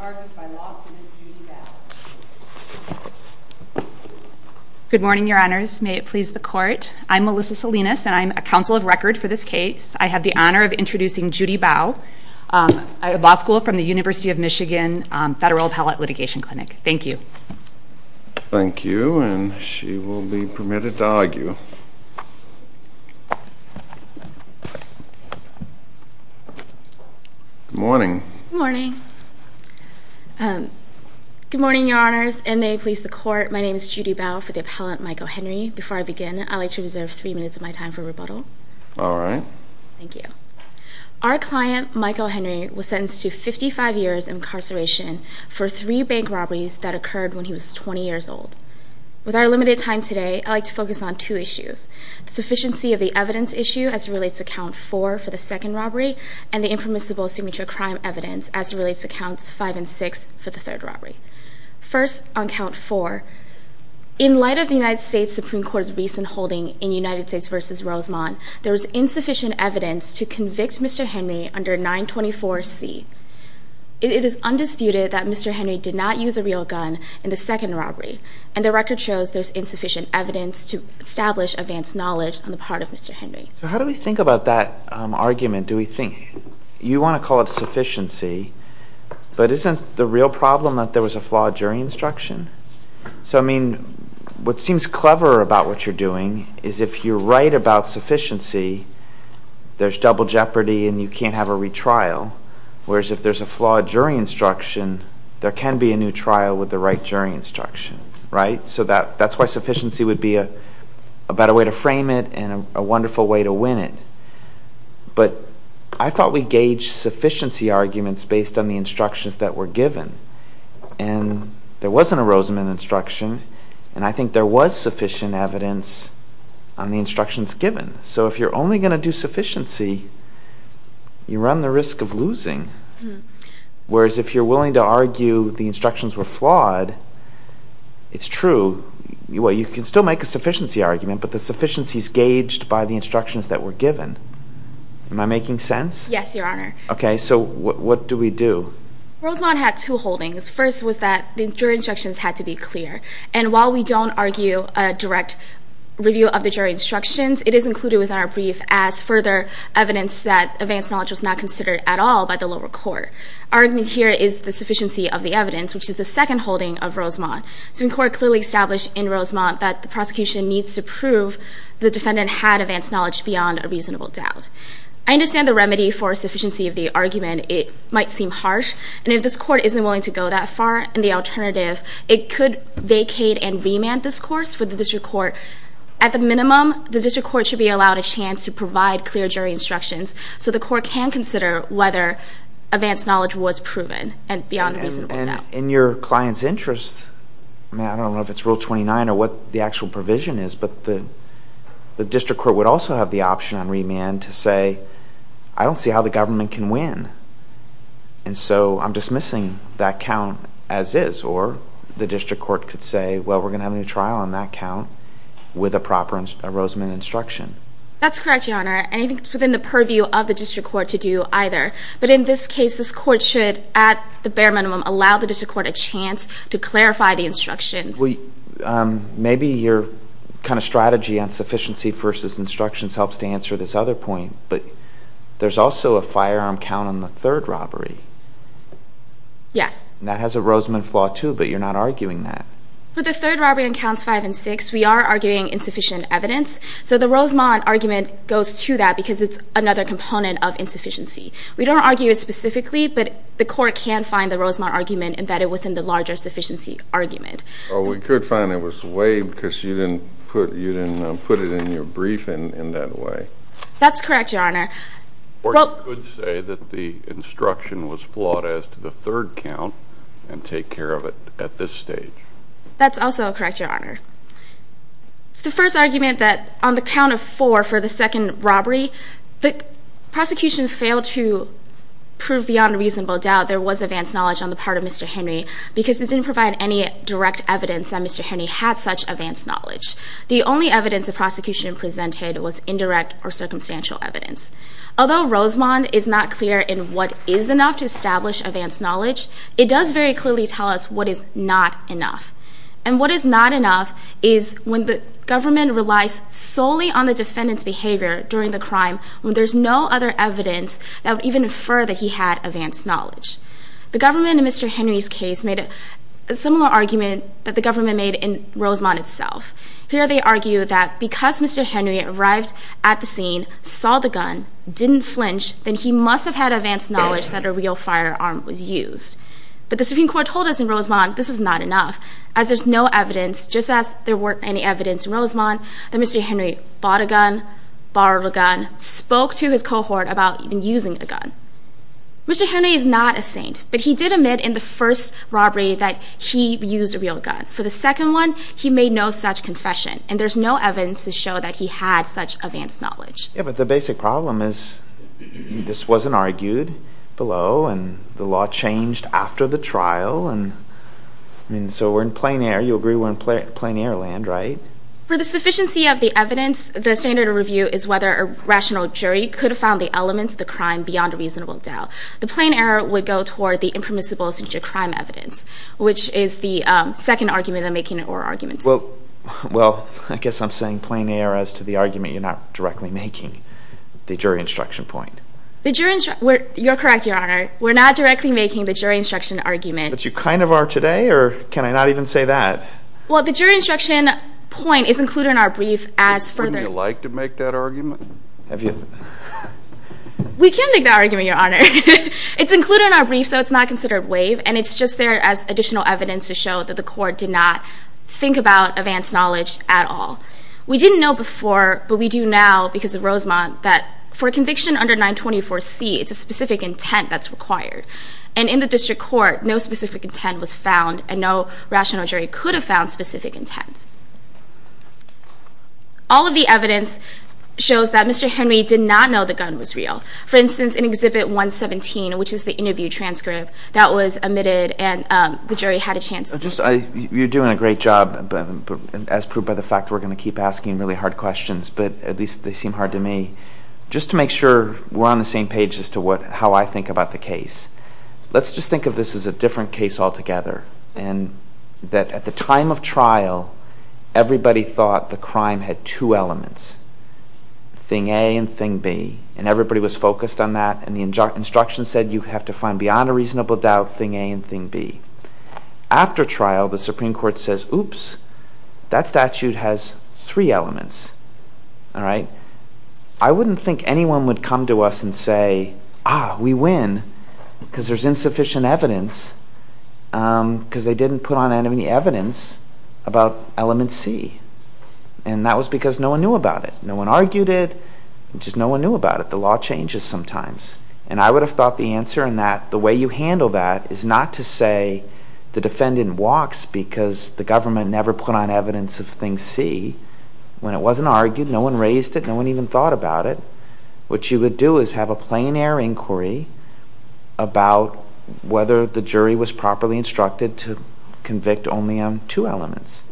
argued by law student Judy Bowe. Good morning your honors. May it please the court. I'm Melissa Salinas and I'm a counsel of record for this case. I have the honor of introducing Judy Bowe, a law school from the University of Michigan Federal Appellate Litigation Clinic. Thank you. Thank you. And she will be permitted to argue. Good morning. Good morning. Good morning your honors. And may it please the court. My name is Judy Bowe for the appellant Michael Henry. Before I begin, I'd like to reserve three minutes of my time for rebuttal. All right. Thank you. Our client, Michael Henry, was sentenced to 55 years incarceration for three bank robberies that occurred when he was 20 years old. With our limited time today, I'd like to focus on two issues, the sufficiency of the evidence issue as it relates to count four for the second robbery and the impermissible signature crime evidence as it relates to counts five and six for the third robbery. First on count four, in light of the United States Supreme Court's recent holding in United insufficient evidence to convict Mr. Henry under 924C. It is undisputed that Mr. Henry did not use a real gun in the second robbery. And the record shows there's insufficient evidence to establish advanced knowledge on the part of Mr. Henry. So how do we think about that argument? Do we think, you want to call it sufficiency, but isn't the real problem that there was a flawed jury instruction? So I mean, what seems clever about what you're doing is if you're right about sufficiency, there's double jeopardy and you can't have a retrial. Whereas if there's a flawed jury instruction, there can be a new trial with the right jury instruction, right? So that's why sufficiency would be a better way to frame it and a wonderful way to win it. But I thought we gauged sufficiency arguments based on the instructions that were given. And there wasn't a Rosamond instruction. And I think there was sufficient evidence on the instructions given. So if you're only going to do sufficiency, you run the risk of losing. Whereas if you're willing to argue the instructions were flawed, it's true. You can still make a sufficiency argument, but the sufficiency is gauged by the instructions that were given. Am I making sense? Yes, Your Honor. Okay. So what do we do? Rosamond had two holdings. First was that the jury instructions had to be clear. And while we don't argue a direct review of the jury instructions, it is included within our brief as further evidence that advance knowledge was not considered at all by the lower court. Argument here is the sufficiency of the evidence, which is the second holding of Rosamond. Supreme Court clearly established in Rosamond that the prosecution needs to prove the defendant had advance knowledge beyond a reasonable doubt. I understand the remedy for sufficiency of the argument. It might seem harsh, and if this court isn't willing to go that far in the alternative, it could vacate and remand this course for the district court. At the minimum, the district court should be allowed a chance to provide clear jury instructions so the court can consider whether advance knowledge was proven and beyond a reasonable doubt. And in your client's interest, I don't know if it's Rule 29 or what the actual provision is, but the district court would also have the option on remand to say, I don't see how the government can win. And so I'm dismissing that count as is. Or the district court could say, well, we're going to have a new trial on that count with a proper Rosamond instruction. That's correct, Your Honor. And I think it's within the purview of the district court to do either. But in this case, this court should, at the bare minimum, allow the district court a chance to clarify the instructions. Maybe your kind of strategy on sufficiency versus instructions helps to answer this other point. But there's also a firearm count on the third robbery. Yes. And that has a Rosamond flaw too, but you're not arguing that. For the third robbery on counts five and six, we are arguing insufficient evidence. So the Rosamond argument goes to that because it's another component of insufficiency. We don't argue it specifically, but the court can find the Rosamond argument embedded within the larger sufficiency argument. Or we could find it was waived because you didn't put it in your briefing in that way. That's correct, Your Honor. Or you could say that the instruction was flawed as to the third count and take care of it at this stage. That's also correct, Your Honor. It's the first argument that on the count of four for the second robbery, the prosecution failed to prove beyond reasonable doubt there was advanced knowledge on the part of Mr. Henry because it didn't provide any direct evidence that Mr. Henry had such advanced knowledge. The only evidence the prosecution presented was indirect or circumstantial evidence. Although Rosamond is not clear in what is enough to establish advanced knowledge, it does very clearly tell us what is not enough. And what is not enough is when the government relies solely on the defendant's behavior during the crime when there's no other evidence that would even infer that he had advanced knowledge. The government in Mr. Henry's case made a similar argument that the government made in Rosamond itself. Here they argue that because Mr. Henry arrived at the scene, saw the gun, didn't flinch, then he must have had advanced knowledge that a real firearm was used. But the Supreme Court told us in Rosamond this is not enough, as there's no evidence, just as there weren't any evidence in Rosamond, that Mr. Henry bought a gun, borrowed a gun, spoke to his cohort about even using a gun. Mr. Henry is not a saint, but he did admit in the first robbery that he used a real gun. For the second one, he made no such confession, and there's no evidence to show that he had such advanced knowledge. Yeah, but the basic problem is this wasn't argued below, and the law changed after the trial, and so we're in plain air. You agree we're in plain air land, right? For the sufficiency of the evidence, the standard of review is whether a rational jury could have found the elements of the crime beyond a reasonable doubt. The plain air would go toward the impermissible subject of crime evidence, which is the second argument I'm making, or arguments. Well, I guess I'm saying plain air as to the argument you're not directly making, the jury instruction point. You're correct, Your Honor. We're not directly making the jury instruction argument. But you kind of are today, or can I not even say that? Well, the jury instruction point is included in our brief as further- Wouldn't you like to make that argument? Have you- We can make that argument, Your Honor. It's included in our brief, so it's not considered waive, and it's just there as additional evidence to show that the court did not think about advanced knowledge at all. We didn't know before, but we do now because of Rosemont, that for a conviction under 924C, it's a specific intent that's required. And in the district court, no specific intent was found, and no rational jury could have found specific intent. All of the evidence shows that Mr. Henry did not know the gun was real. For instance, in Exhibit 117, which is the interview transcript, that was omitted, and the jury had a chance- You're doing a great job, as proved by the fact we're going to keep asking really hard questions, but at least they seem hard to me. Just to make sure we're on the same page as to how I think about the case, let's just think of this as a different case altogether, and that at the time of trial, the jury had everybody thought the crime had two elements, thing A and thing B, and everybody was focused on that, and the instruction said you have to find beyond a reasonable doubt thing A and thing B. After trial, the Supreme Court says, oops, that statute has three elements. I wouldn't think anyone would come to us and say, ah, we win, because there's insufficient evidence because they didn't put on any evidence about element C, and that was because no one knew about it. No one argued it, just no one knew about it. The law changes sometimes, and I would have thought the answer in that the way you handle that is not to say the defendant walks because the government never put on evidence of thing C when it wasn't argued, no one raised it, no one even thought about it. What you would do is have a plein air inquiry about whether the jury was properly instructed to convict only on two elements,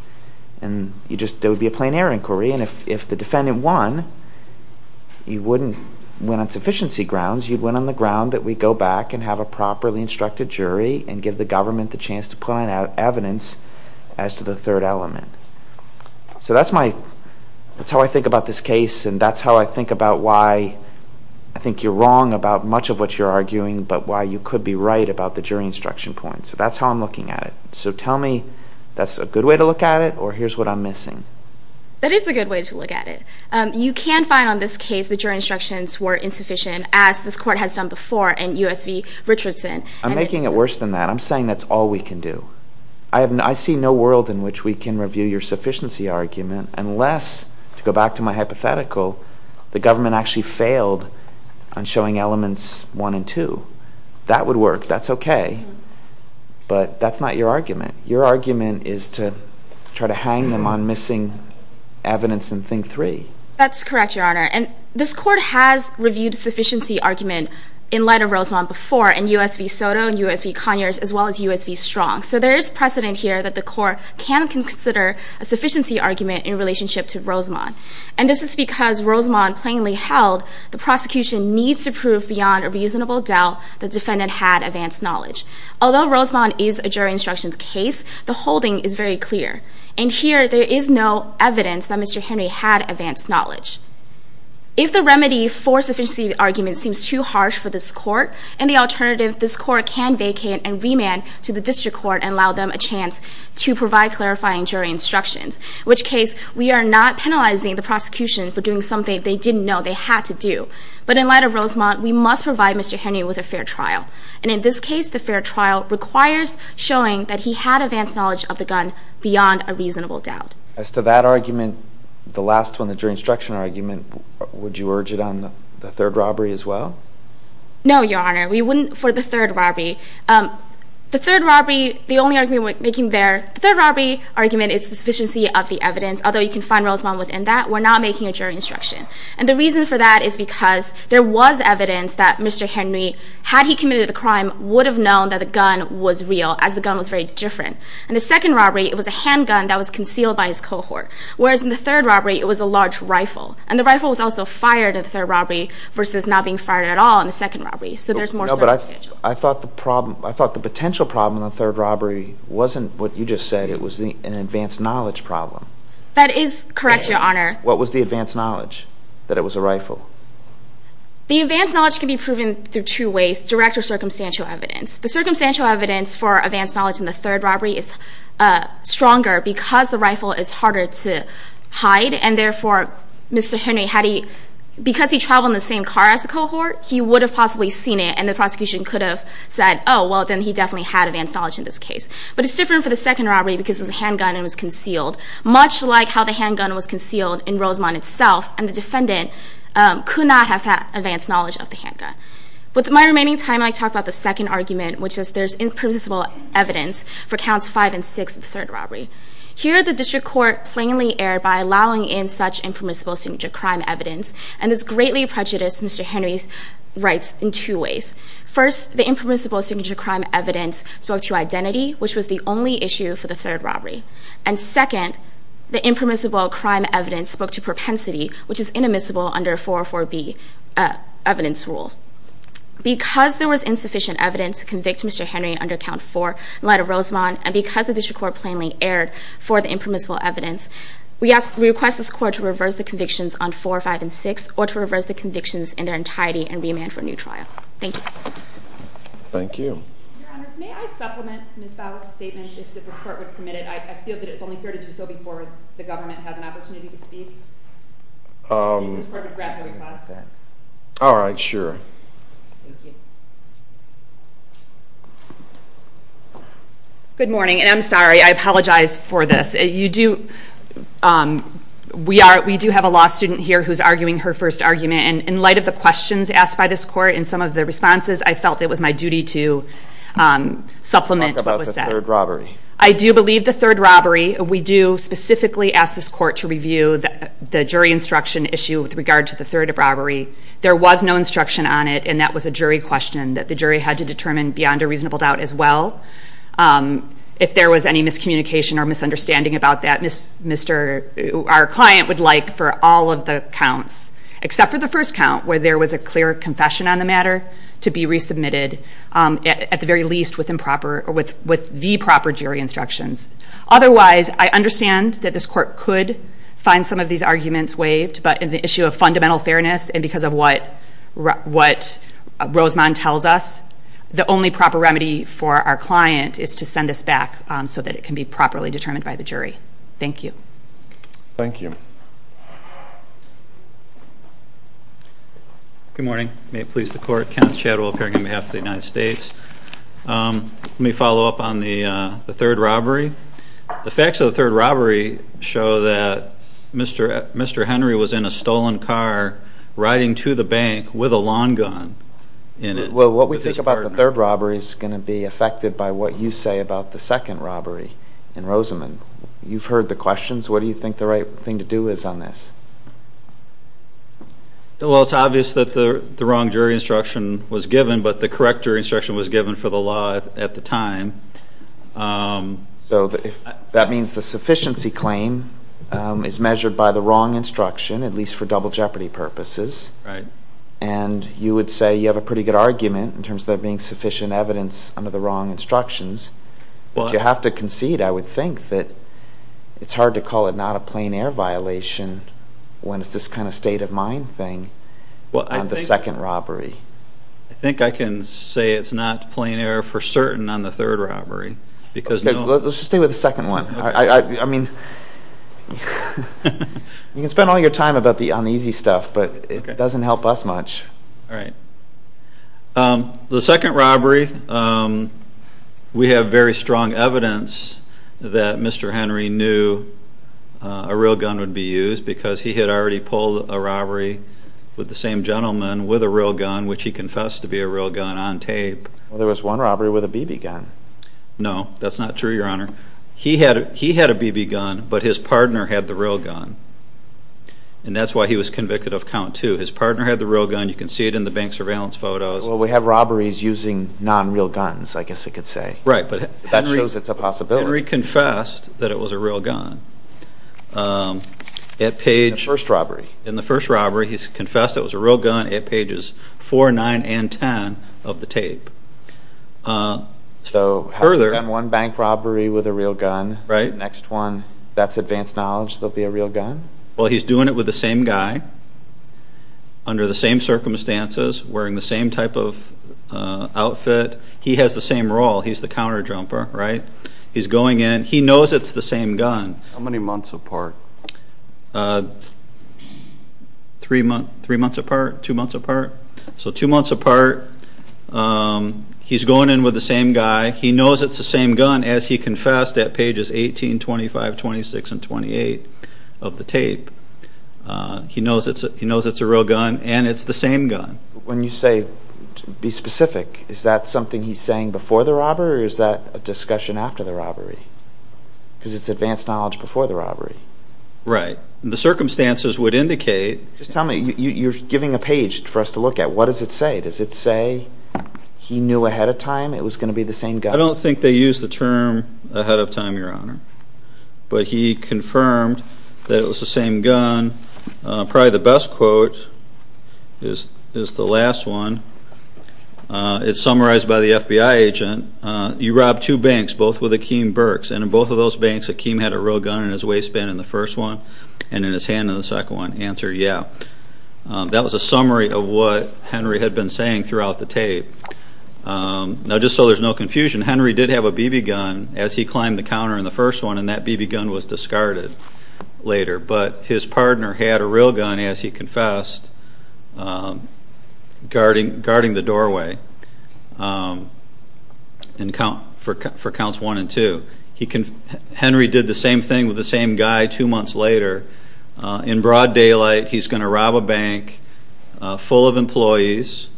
and there would be a plein air inquiry, and if the defendant won, you wouldn't win on sufficiency grounds, you'd win on the ground that we go back and have a properly instructed jury and give the government the chance to put on evidence as to the third element. So that's how I think about this case, and that's how I think about why I think you're wrong about much of what you're arguing, but why you could be right about the jury instruction point. So that's how I'm looking at it. So tell me, that's a good way to look at it, or here's what I'm missing. That is a good way to look at it. You can find on this case the jury instructions were insufficient, as this court has done before in U.S. v. Richardson. I'm making it worse than that. I'm saying that's all we can do. I see no world in which we can review your sufficiency argument unless, to go back to my hypothetical, the government actually failed on showing elements one and two. That would work. That's okay, but that's not your argument. Your argument is to try to hang them on missing evidence in thing three. That's correct, Your Honor, and this court has reviewed sufficiency argument in light of Rosamond before in U.S. v. Soto and U.S. v. Conyers, as well as U.S. v. Strong. So there is precedent here that the court can consider a sufficiency argument in relationship to Rosamond, and this is because Rosamond plainly held the prosecution needs to prove beyond a reasonable doubt the defendant had advanced knowledge. Although Rosamond is a jury instructions case, the holding is very clear, and here there is no evidence that Mr. Henry had advanced knowledge. If the remedy for sufficiency argument seems too harsh for this court, and the alternative, this court can vacate and remand to the district court and allow them a chance to provide clarifying jury instructions. In which case, we are not penalizing the prosecution for doing something they didn't know they had to do. But in light of Rosamond, we must provide Mr. Henry with a fair trial, and in this case, the fair trial requires showing that he had advanced knowledge of the gun beyond a reasonable doubt. As to that argument, the last one, the jury instruction argument, would you urge it on the third robbery as well? No, Your Honor, we wouldn't for the third robbery. The third robbery, the only argument we're making there, the third robbery argument is the sufficiency of the evidence, although you can find Rosamond within that, we're not making a jury instruction. And the reason for that is because there was evidence that Mr. Henry, had he committed a crime, would have known that the gun was real, as the gun was very different. In the second robbery, it was a handgun that was concealed by his cohort, whereas in the third robbery, it was a large rifle. And the rifle was also fired in the third robbery, versus not being fired at all in the second robbery. So there's more circumstances. No, but I thought the problem, I thought the potential problem in the third robbery wasn't what you just said, it was an advanced knowledge problem. That is correct, Your Honor. What was the advanced knowledge, that it was a rifle? The advanced knowledge can be proven through two ways, direct or circumstantial evidence. The circumstantial evidence for advanced knowledge in the third robbery is stronger, because the rifle is harder to hide, and therefore, Mr. Henry, had he, because he traveled in the same car as the cohort, he would have possibly seen it, and the prosecution could have said, oh, well, then he definitely had advanced knowledge in this case. But it's different for the second robbery, because it was a handgun and it was concealed. Much like how the handgun was concealed in Rosamond itself, and the defendant could not have had advanced knowledge of the handgun. With my remaining time, I'd like to talk about the second argument, which is there's impermissible evidence for counts five and six of the third robbery. Here, the district court plainly erred by allowing in such impermissible signature crime evidence, and this greatly prejudiced Mr. Henry's rights in two ways. First, the impermissible signature crime evidence spoke to identity, which was the only issue for the third robbery. And second, the impermissible crime evidence spoke to propensity, which is inadmissible under 404B evidence rule. Because there was insufficient evidence to convict Mr. Henry under count four in light of Rosamond, and because the district court plainly erred for the impermissible evidence, we request this court to reverse the convictions on four, five, and six. Or to reverse the convictions in their entirety and remand for a new trial. Thank you. Thank you. Your Honors, may I supplement Ms. Bowles' statement, if this court would permit it? I feel that it's only fair to do so before the government has an opportunity to speak. If you could just grab my request. All right, sure. Thank you. Good morning, and I'm sorry, I apologize for this. You do, we do have a law student here who's arguing her first argument, and in light of the questions asked by this court and some of the responses, I felt it was my duty to supplement what was said. Talk about the third robbery. I do believe the third robbery. We do specifically ask this court to review the jury instruction issue with regard to the third robbery. There was no instruction on it, and that was a jury question that the jury had to determine beyond a reasonable doubt as well. If there was any miscommunication or misunderstanding about that, our client would like for all of the counts, except for the first count, where there was a clear confession on the matter, to be resubmitted, at the very least, with the proper jury instructions. Otherwise, I understand that this court could find some of these arguments waived, but in the issue of fundamental fairness and because of what Rosemond tells us, the only proper remedy for our client is to send this back so that it can be properly determined by the jury. Thank you. Thank you. Good morning. May it please the court, Kenneth Chadwell, appearing on behalf of the United States. Let me follow up on the third robbery. The facts of the third robbery show that Mr. Henry was in a stolen car riding to the bank with a lawn gun in it. Well, what we think about the third robbery is going to be affected by what you say about the second robbery in Rosemond. You've heard the questions. What do you think the right thing to do is on this? Well, it's obvious that the wrong jury instruction was given, but the correct jury instruction was given for the law at the time. So that means the sufficiency claim is measured by the wrong instruction, at least for double jeopardy purposes. Right. And you would say you have a pretty good argument in terms of there being sufficient evidence under the wrong instructions. But you have to concede, I would think, that it's hard to call it not a plain air violation when it's this kind of state of mind thing on the second robbery. I think I can say it's not plain air for certain on the third robbery. Okay, let's just stay with the second one. I mean, you can spend all your time on the easy stuff, but it doesn't help us much. All right. The second robbery, we have very strong evidence that Mr. Henry knew a real gun would be used because he had already pulled a robbery with the same gentleman with a real gun, which he confessed to be a real gun, on tape. Well, there was one robbery with a BB gun. No, that's not true, Your Honor. He had a BB gun, but his partner had the real gun, and that's why he was convicted of count two. His partner had the real gun. You can see it in the bank surveillance photos. Well, we have robberies using non-real guns, I guess you could say. Right, but Henry- That shows it's a possibility. Henry confessed that it was a real gun at page- The first robbery. In the first robbery, he confessed it was a real gun at pages four, nine, and ten of the tape. So, having done one bank robbery with a real gun- Right. Next one, that's advanced knowledge there'll be a real gun? Well, he's doing it with the same guy, under the same circumstances, wearing the same type of outfit. He has the same role, he's the counter jumper, right? He's going in, he knows it's the same gun. How many months apart? Three months apart, two months apart. So, two months apart, he's going in with the same guy, he knows it's the same gun, as he confessed at pages 18, 25, 26, and 28 of the tape. He knows it's a real gun, and it's the same gun. When you say, be specific, is that something he's saying before the robbery, or is that a discussion after the robbery? Because it's advanced knowledge before the robbery. Right. The circumstances would indicate- Just tell me, you're giving a page for us to look at, what does it say? Does it say he knew ahead of time it was going to be the same gun? I don't think they use the term ahead of time, Your Honor. But he confirmed that it was the same gun. Probably the best quote is the last one. It's summarized by the FBI agent, you robbed two banks, both with Akeem Burks. And in both of those banks, Akeem had a real gun in his waistband in the first one, and in his hand in the second one. Answer, yeah. That was a summary of what Henry had been saying throughout the tape. Now, just so there's no confusion, Henry did have a BB gun as he climbed the counter in the first one, and that BB gun was discarded later. But his partner had a real gun, as he confessed, guarding the doorway for counts one and two. Henry did the same thing with the same guy two months later. In broad daylight, he's going to rob a bank full of employees.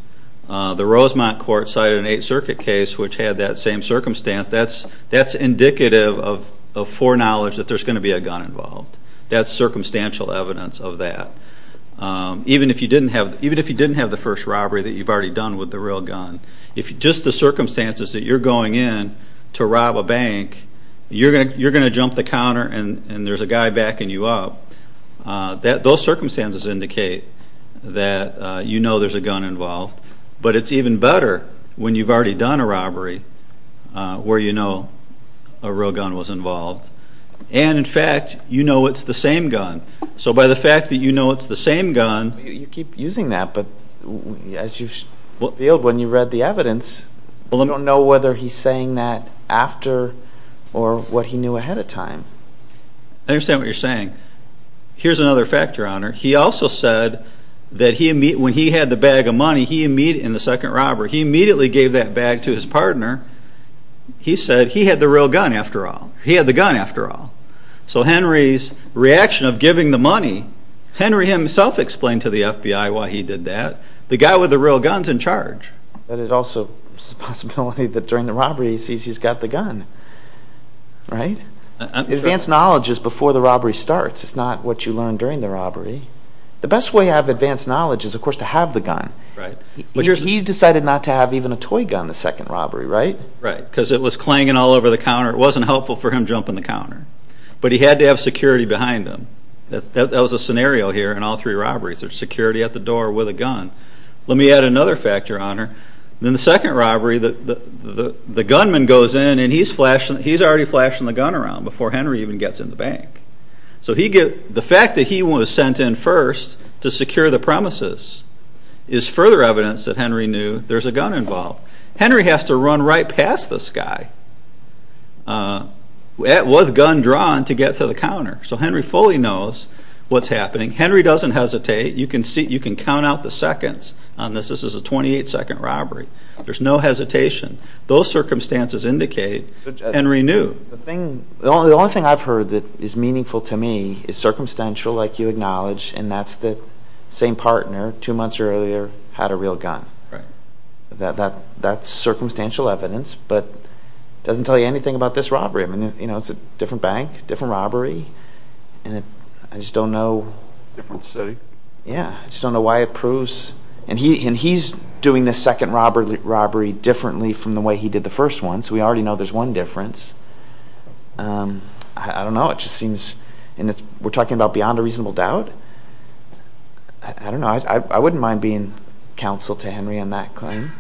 The Rosemont court cited an Eighth Circuit case which had that same circumstance. That's indicative of foreknowledge that there's going to be a gun involved. That's circumstantial evidence of that. Even if you didn't have the first robbery that you've already done with the real gun, if just the circumstances that you're going in to rob a bank, you're going to jump the counter and there's a guy backing you up, those circumstances indicate that you know there's a gun involved. But it's even better when you've already done a robbery where you know a real gun was involved. And, in fact, you know it's the same gun. So by the fact that you know it's the same gun... You keep using that, but as you revealed when you read the evidence, you don't know whether he's saying that after or what he knew ahead of time. I understand what you're saying. Here's another fact, Your Honor. He also said that when he had the bag of money in the second robbery, he immediately gave that bag to his partner. He said he had the real gun after all. He had the gun after all. So Henry's reaction of giving the money, Henry himself explained to the FBI why he did that. The guy with the real gun's in charge. But it also is a possibility that during the robbery he sees he's got the gun, right? Advanced knowledge is before the robbery starts. It's not what you learn during the robbery. The best way to have advanced knowledge is, of course, to have the gun. He decided not to have even a toy gun the second robbery, right? Right. Because it was clanging all over the counter. It wasn't helpful for him jumping the counter. But he had to have security behind him. That was a scenario here in all three robberies. There's security at the door with a gun. Let me add another fact, Your Honor. Then the second robbery, the gunman goes in and he's already flashing the gun around before Henry even gets in the bank. So the fact that he was sent in first to secure the premises is further evidence that Henry knew there's a gun involved. Henry has to run right past this guy with a gun drawn to get to the counter. So Henry fully knows what's happening. Henry doesn't hesitate. You can count out the seconds on this. This is a 28-second robbery. There's no hesitation. Those circumstances indicate Henry knew. The only thing I've heard that is meaningful to me is circumstantial, like you acknowledge, and that's the same partner two months earlier had a real gun. That's circumstantial evidence. But it doesn't tell you anything about this robbery. I mean, it's a different bank, different robbery. And I just don't know. Different city. Yeah. I just don't know why it proves. And he's doing this second robbery differently from the way he did the first one. So we already know there's one difference. I don't know. It just seems. And we're talking about beyond a reasonable doubt. I don't know. I wouldn't mind being counsel to Henry on that claim.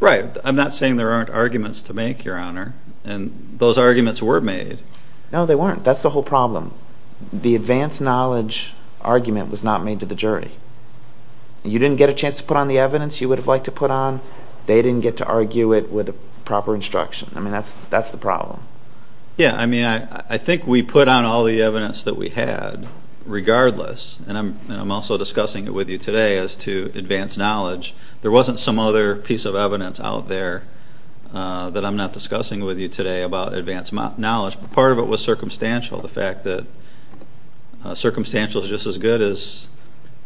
Right. I'm not saying there aren't arguments to make, Your Honor. And those arguments were made. No, they weren't. That's the whole problem. The advanced knowledge argument was not made to the jury. And you didn't get a chance to put on the evidence you would have liked to put on. They didn't get to argue it with proper instruction. I mean, that's the problem. Yeah. I mean, I think we put on all the evidence that we had regardless. And I'm also discussing it with you today as to advanced knowledge. There wasn't some other piece of evidence out there that I'm not discussing with you today about advanced knowledge. But part of it was circumstantial. The fact that circumstantial is just as good as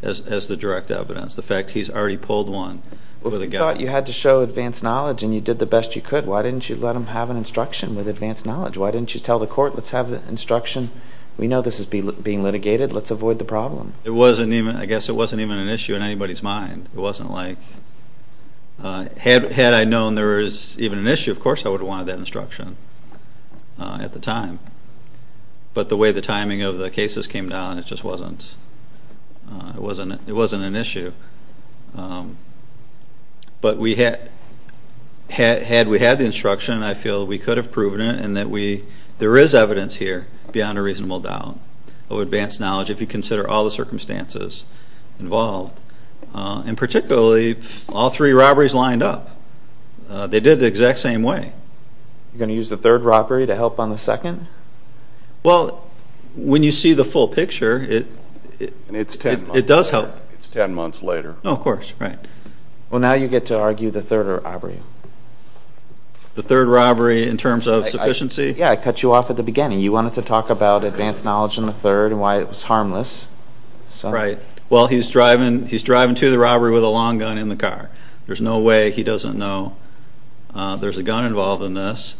the direct evidence. The fact he's already pulled one. Well, if you thought you had to show advanced knowledge and you did the best you could, why didn't you let him have an instruction with advanced knowledge? Why didn't you tell the court, let's have the instruction? We know this is being litigated. Let's avoid the problem. It wasn't even. I guess it wasn't even an issue in anybody's mind. It wasn't like. Had I known there was even an issue, of course, I would have wanted that instruction at the time. But the way the timing of the cases came down, it just wasn't an issue. But had we had the instruction, I feel we could have proven it. And there is evidence here beyond a reasonable doubt of advanced knowledge if you consider all the circumstances involved. And particularly, all three robberies lined up. They did the exact same way. You're going to use the third robbery to help on the second? Well, when you see the full picture, it does help. It's 10 months later. No, of course. Right. Well, now you get to argue the third robbery. The third robbery in terms of sufficiency? Yeah, I cut you off at the beginning. You wanted to talk about advanced knowledge in the third and why it was harmless. Right. Well, he's driving to the robbery with a long gun in the car. There's no way he doesn't know there's a gun involved in this.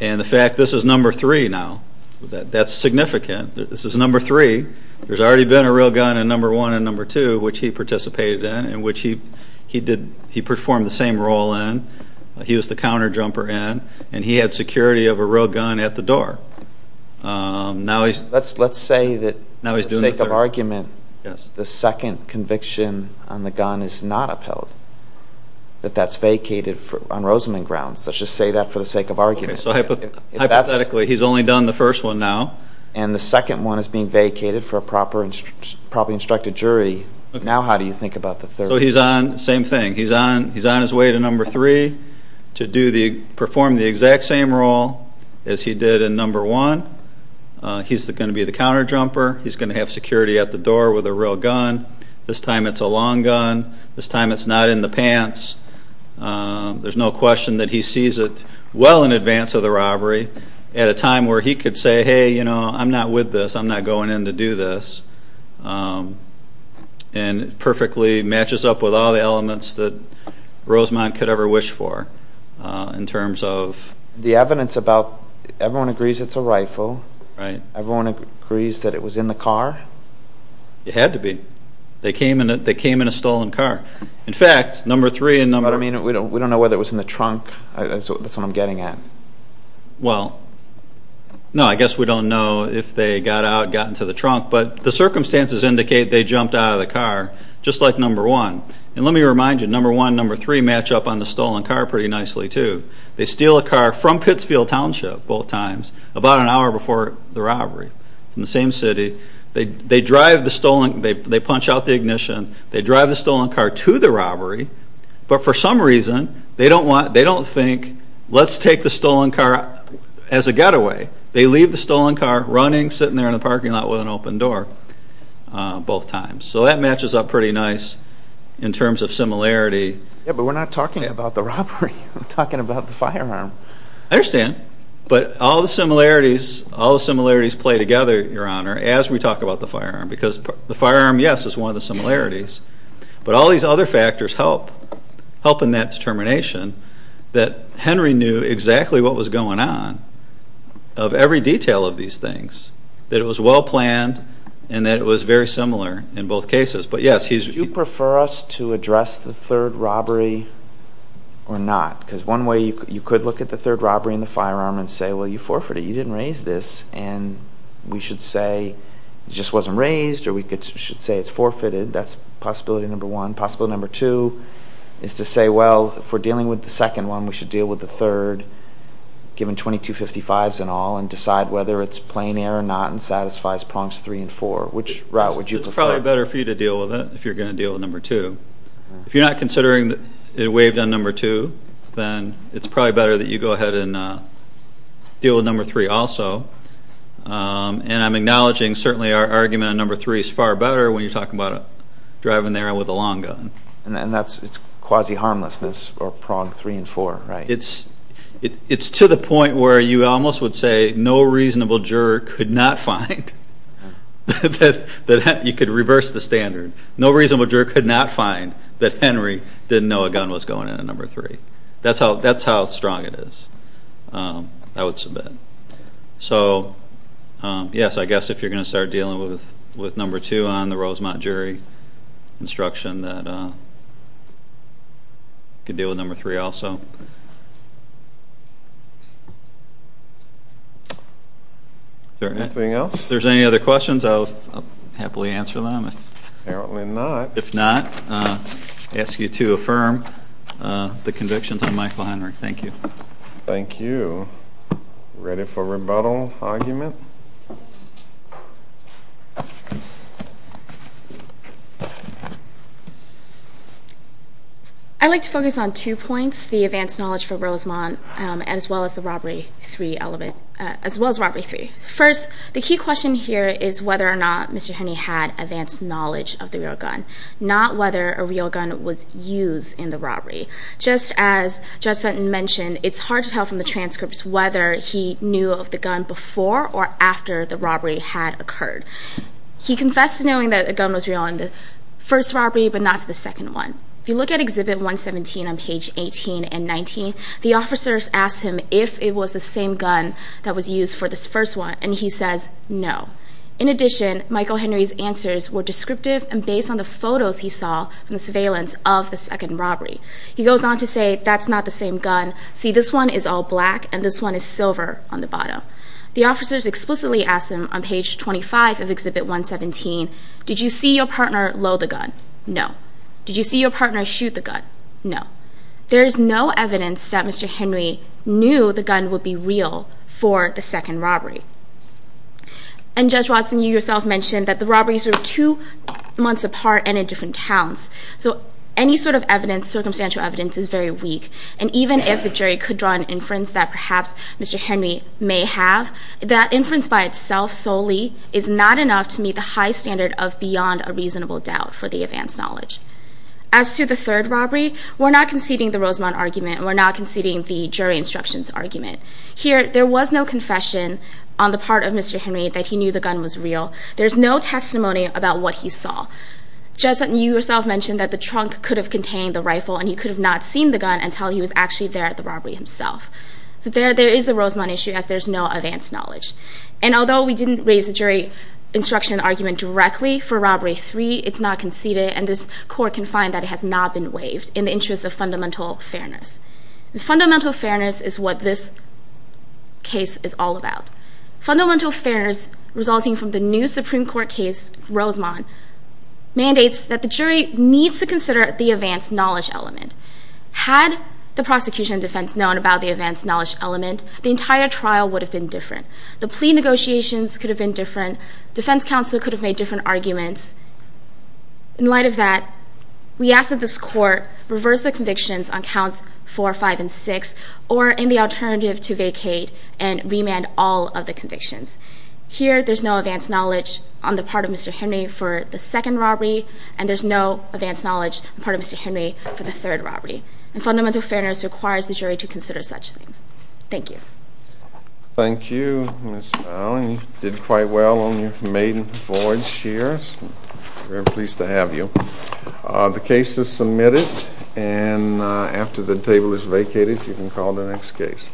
And the fact this is number three now, that's significant. This is number three. There's already been a real gun in number one and number two, which he participated in, in which he performed the same role in. He was the counterjumper in. And he had security of a real gun at the door. Let's say that for the sake of argument, the second conviction on the gun is not upheld. That's vacated on Rosamond grounds. Let's just say that for the sake of argument. So hypothetically, he's only done the first one now. And the second one is being vacated for a properly instructed jury. Now how do you think about the third? So he's on, same thing. He's on his way to number three to perform the exact same role as he did in number one. He's going to be the counterjumper. He's going to have security at the door with a real gun. This time it's a long gun. This time it's not in the pants. Um, there's no question that he sees it well in advance of the robbery at a time where he could say, Hey, you know, I'm not with this. I'm not going in to do this. Um, and perfectly matches up with all the elements that Rosamond could ever wish for, uh, in terms of the evidence about everyone agrees. It's a rifle, right? Everyone agrees that it was in the car. It had to be. They came in, they came in a stolen car. In fact, number three and number... But I mean, we don't, we don't know whether it was in the trunk. That's what I'm getting at. Well, no, I guess we don't know if they got out, got into the trunk, but the circumstances indicate they jumped out of the car just like number one. And let me remind you, number one, number three match up on the stolen car pretty nicely too. They steal a car from Pittsfield Township, both times, about an hour before the robbery in the same city. They, they drive the stolen, they, they punch out the ignition. They drive the stolen car to the robbery, but for some reason they don't want, they don't think, let's take the stolen car as a getaway. They leave the stolen car running, sitting there in the parking lot with an open door, both times. So that matches up pretty nice in terms of similarity. Yeah, but we're not talking about the robbery. We're talking about the firearm. I understand, but all the similarities, all the similarities play together, Your Honor, as we talk about the firearm. Because the firearm, yes, is one of the similarities, but all these other factors help, help in that determination that Henry knew exactly what was going on, of every detail of these things. That it was well planned and that it was very similar in both cases. But yes, he's... Do you prefer us to address the third robbery or not? Because one way you could look at the third robbery and the firearm and say, well, you forfeited, you didn't raise this. And we should say it just wasn't raised, or we should say it's forfeited. That's possibility number one. Possibility number two is to say, well, if we're dealing with the second one, we should deal with the third, given 2255s and all, and decide whether it's plain error or not and satisfies prongs three and four. Which route would you prefer? It's probably better for you to deal with it if you're going to deal with number two. If you're not considering that it waived on number two, then it's probably better that you go ahead and deal with number three also. And I'm acknowledging certainly our argument on number three is far better when you're talking about driving there with a long gun. And that's quasi-harmlessness or prong three and four, right? It's to the point where you almost would say no reasonable juror could not find that you could reverse the standard. No reasonable juror could not find that Henry didn't know a gun was going in at number three. That's how strong it is. I would submit. So yes, I guess if you're going to start dealing with number two on the Rosemont jury instruction, that you could deal with number three also. Is there anything else? If there's any other questions, I'll happily answer them. Apparently not. If not, I ask you to affirm the convictions on Michael Henry. Thank you. Thank you. Ready for rebuttal argument? I'd like to focus on two points, the advanced knowledge for Rosemont as well as the robbery three element, as well as robbery three. First, the key question here is whether or not Mr. Henry had advanced knowledge of the real gun. Not whether a real gun was used in the robbery. Just as Judge Sutton mentioned, it's hard to tell from the transcripts whether he knew of the gun before or after the robbery had occurred. He confessed to knowing that a gun was real in the first robbery, but not to the second one. If you look at Exhibit 117 on page 18 and 19, the officers asked him if it was the same gun that was used for this first one, and he says no. In addition, Michael Henry's answers were descriptive and based on the photos he saw from the surveillance of the second robbery. He goes on to say, that's not the same gun. See, this one is all black and this one is silver on the bottom. The officers explicitly asked him on page 25 of Exhibit 117, did you see your partner load the gun? No. Did you see your partner shoot the gun? No. There is no evidence that Mr. Henry knew the gun would be real for the second robbery. And Judge Watson, you yourself mentioned that the robberies were two months apart and in different towns. So any sort of evidence, circumstantial evidence, is very weak. And even if the jury could draw an inference that perhaps Mr. Henry may have, that inference by itself solely is not enough to meet the high standard of beyond a reasonable doubt for the advanced knowledge. As to the third robbery, we're not conceding the Rosemount argument and we're not conceding the jury instructions argument. Here, there was no confession on the part of Mr. Henry that he knew the gun was real. There's no testimony about what he saw. Judge Sutton, you yourself mentioned that the trunk could have contained the rifle and he could have not seen the gun until he was actually there at the robbery himself. So there is a Rosemount issue as there's no advanced knowledge. And although we didn't raise the jury instruction argument directly for robbery three, it's not conceded and this court can find that it has not been waived in the interest of fundamental fairness. And fundamental fairness is what this case is all about. Fundamental fairness resulting from the new Supreme Court case, Rosemount, mandates that the jury needs to consider the advanced knowledge element. Had the prosecution and defense known about the advanced knowledge element, the entire trial would have been different. The plea negotiations could have been different. Defense counsel could have made different arguments. In light of that, we ask that this court reverse the convictions on counts four, five, and six, or in the alternative, to vacate and remand all of the convictions. Here, there's no advanced knowledge on the part of Mr. Henry for the second robbery, and there's no advanced knowledge on the part of Mr. Henry for the third robbery. And fundamental fairness requires the jury to consider such things. Thank you. Thank you, Ms. Powell. You did quite well on your maiden voyage here. Very pleased to have you. The case is submitted, and after the table is vacated, you can call the next case.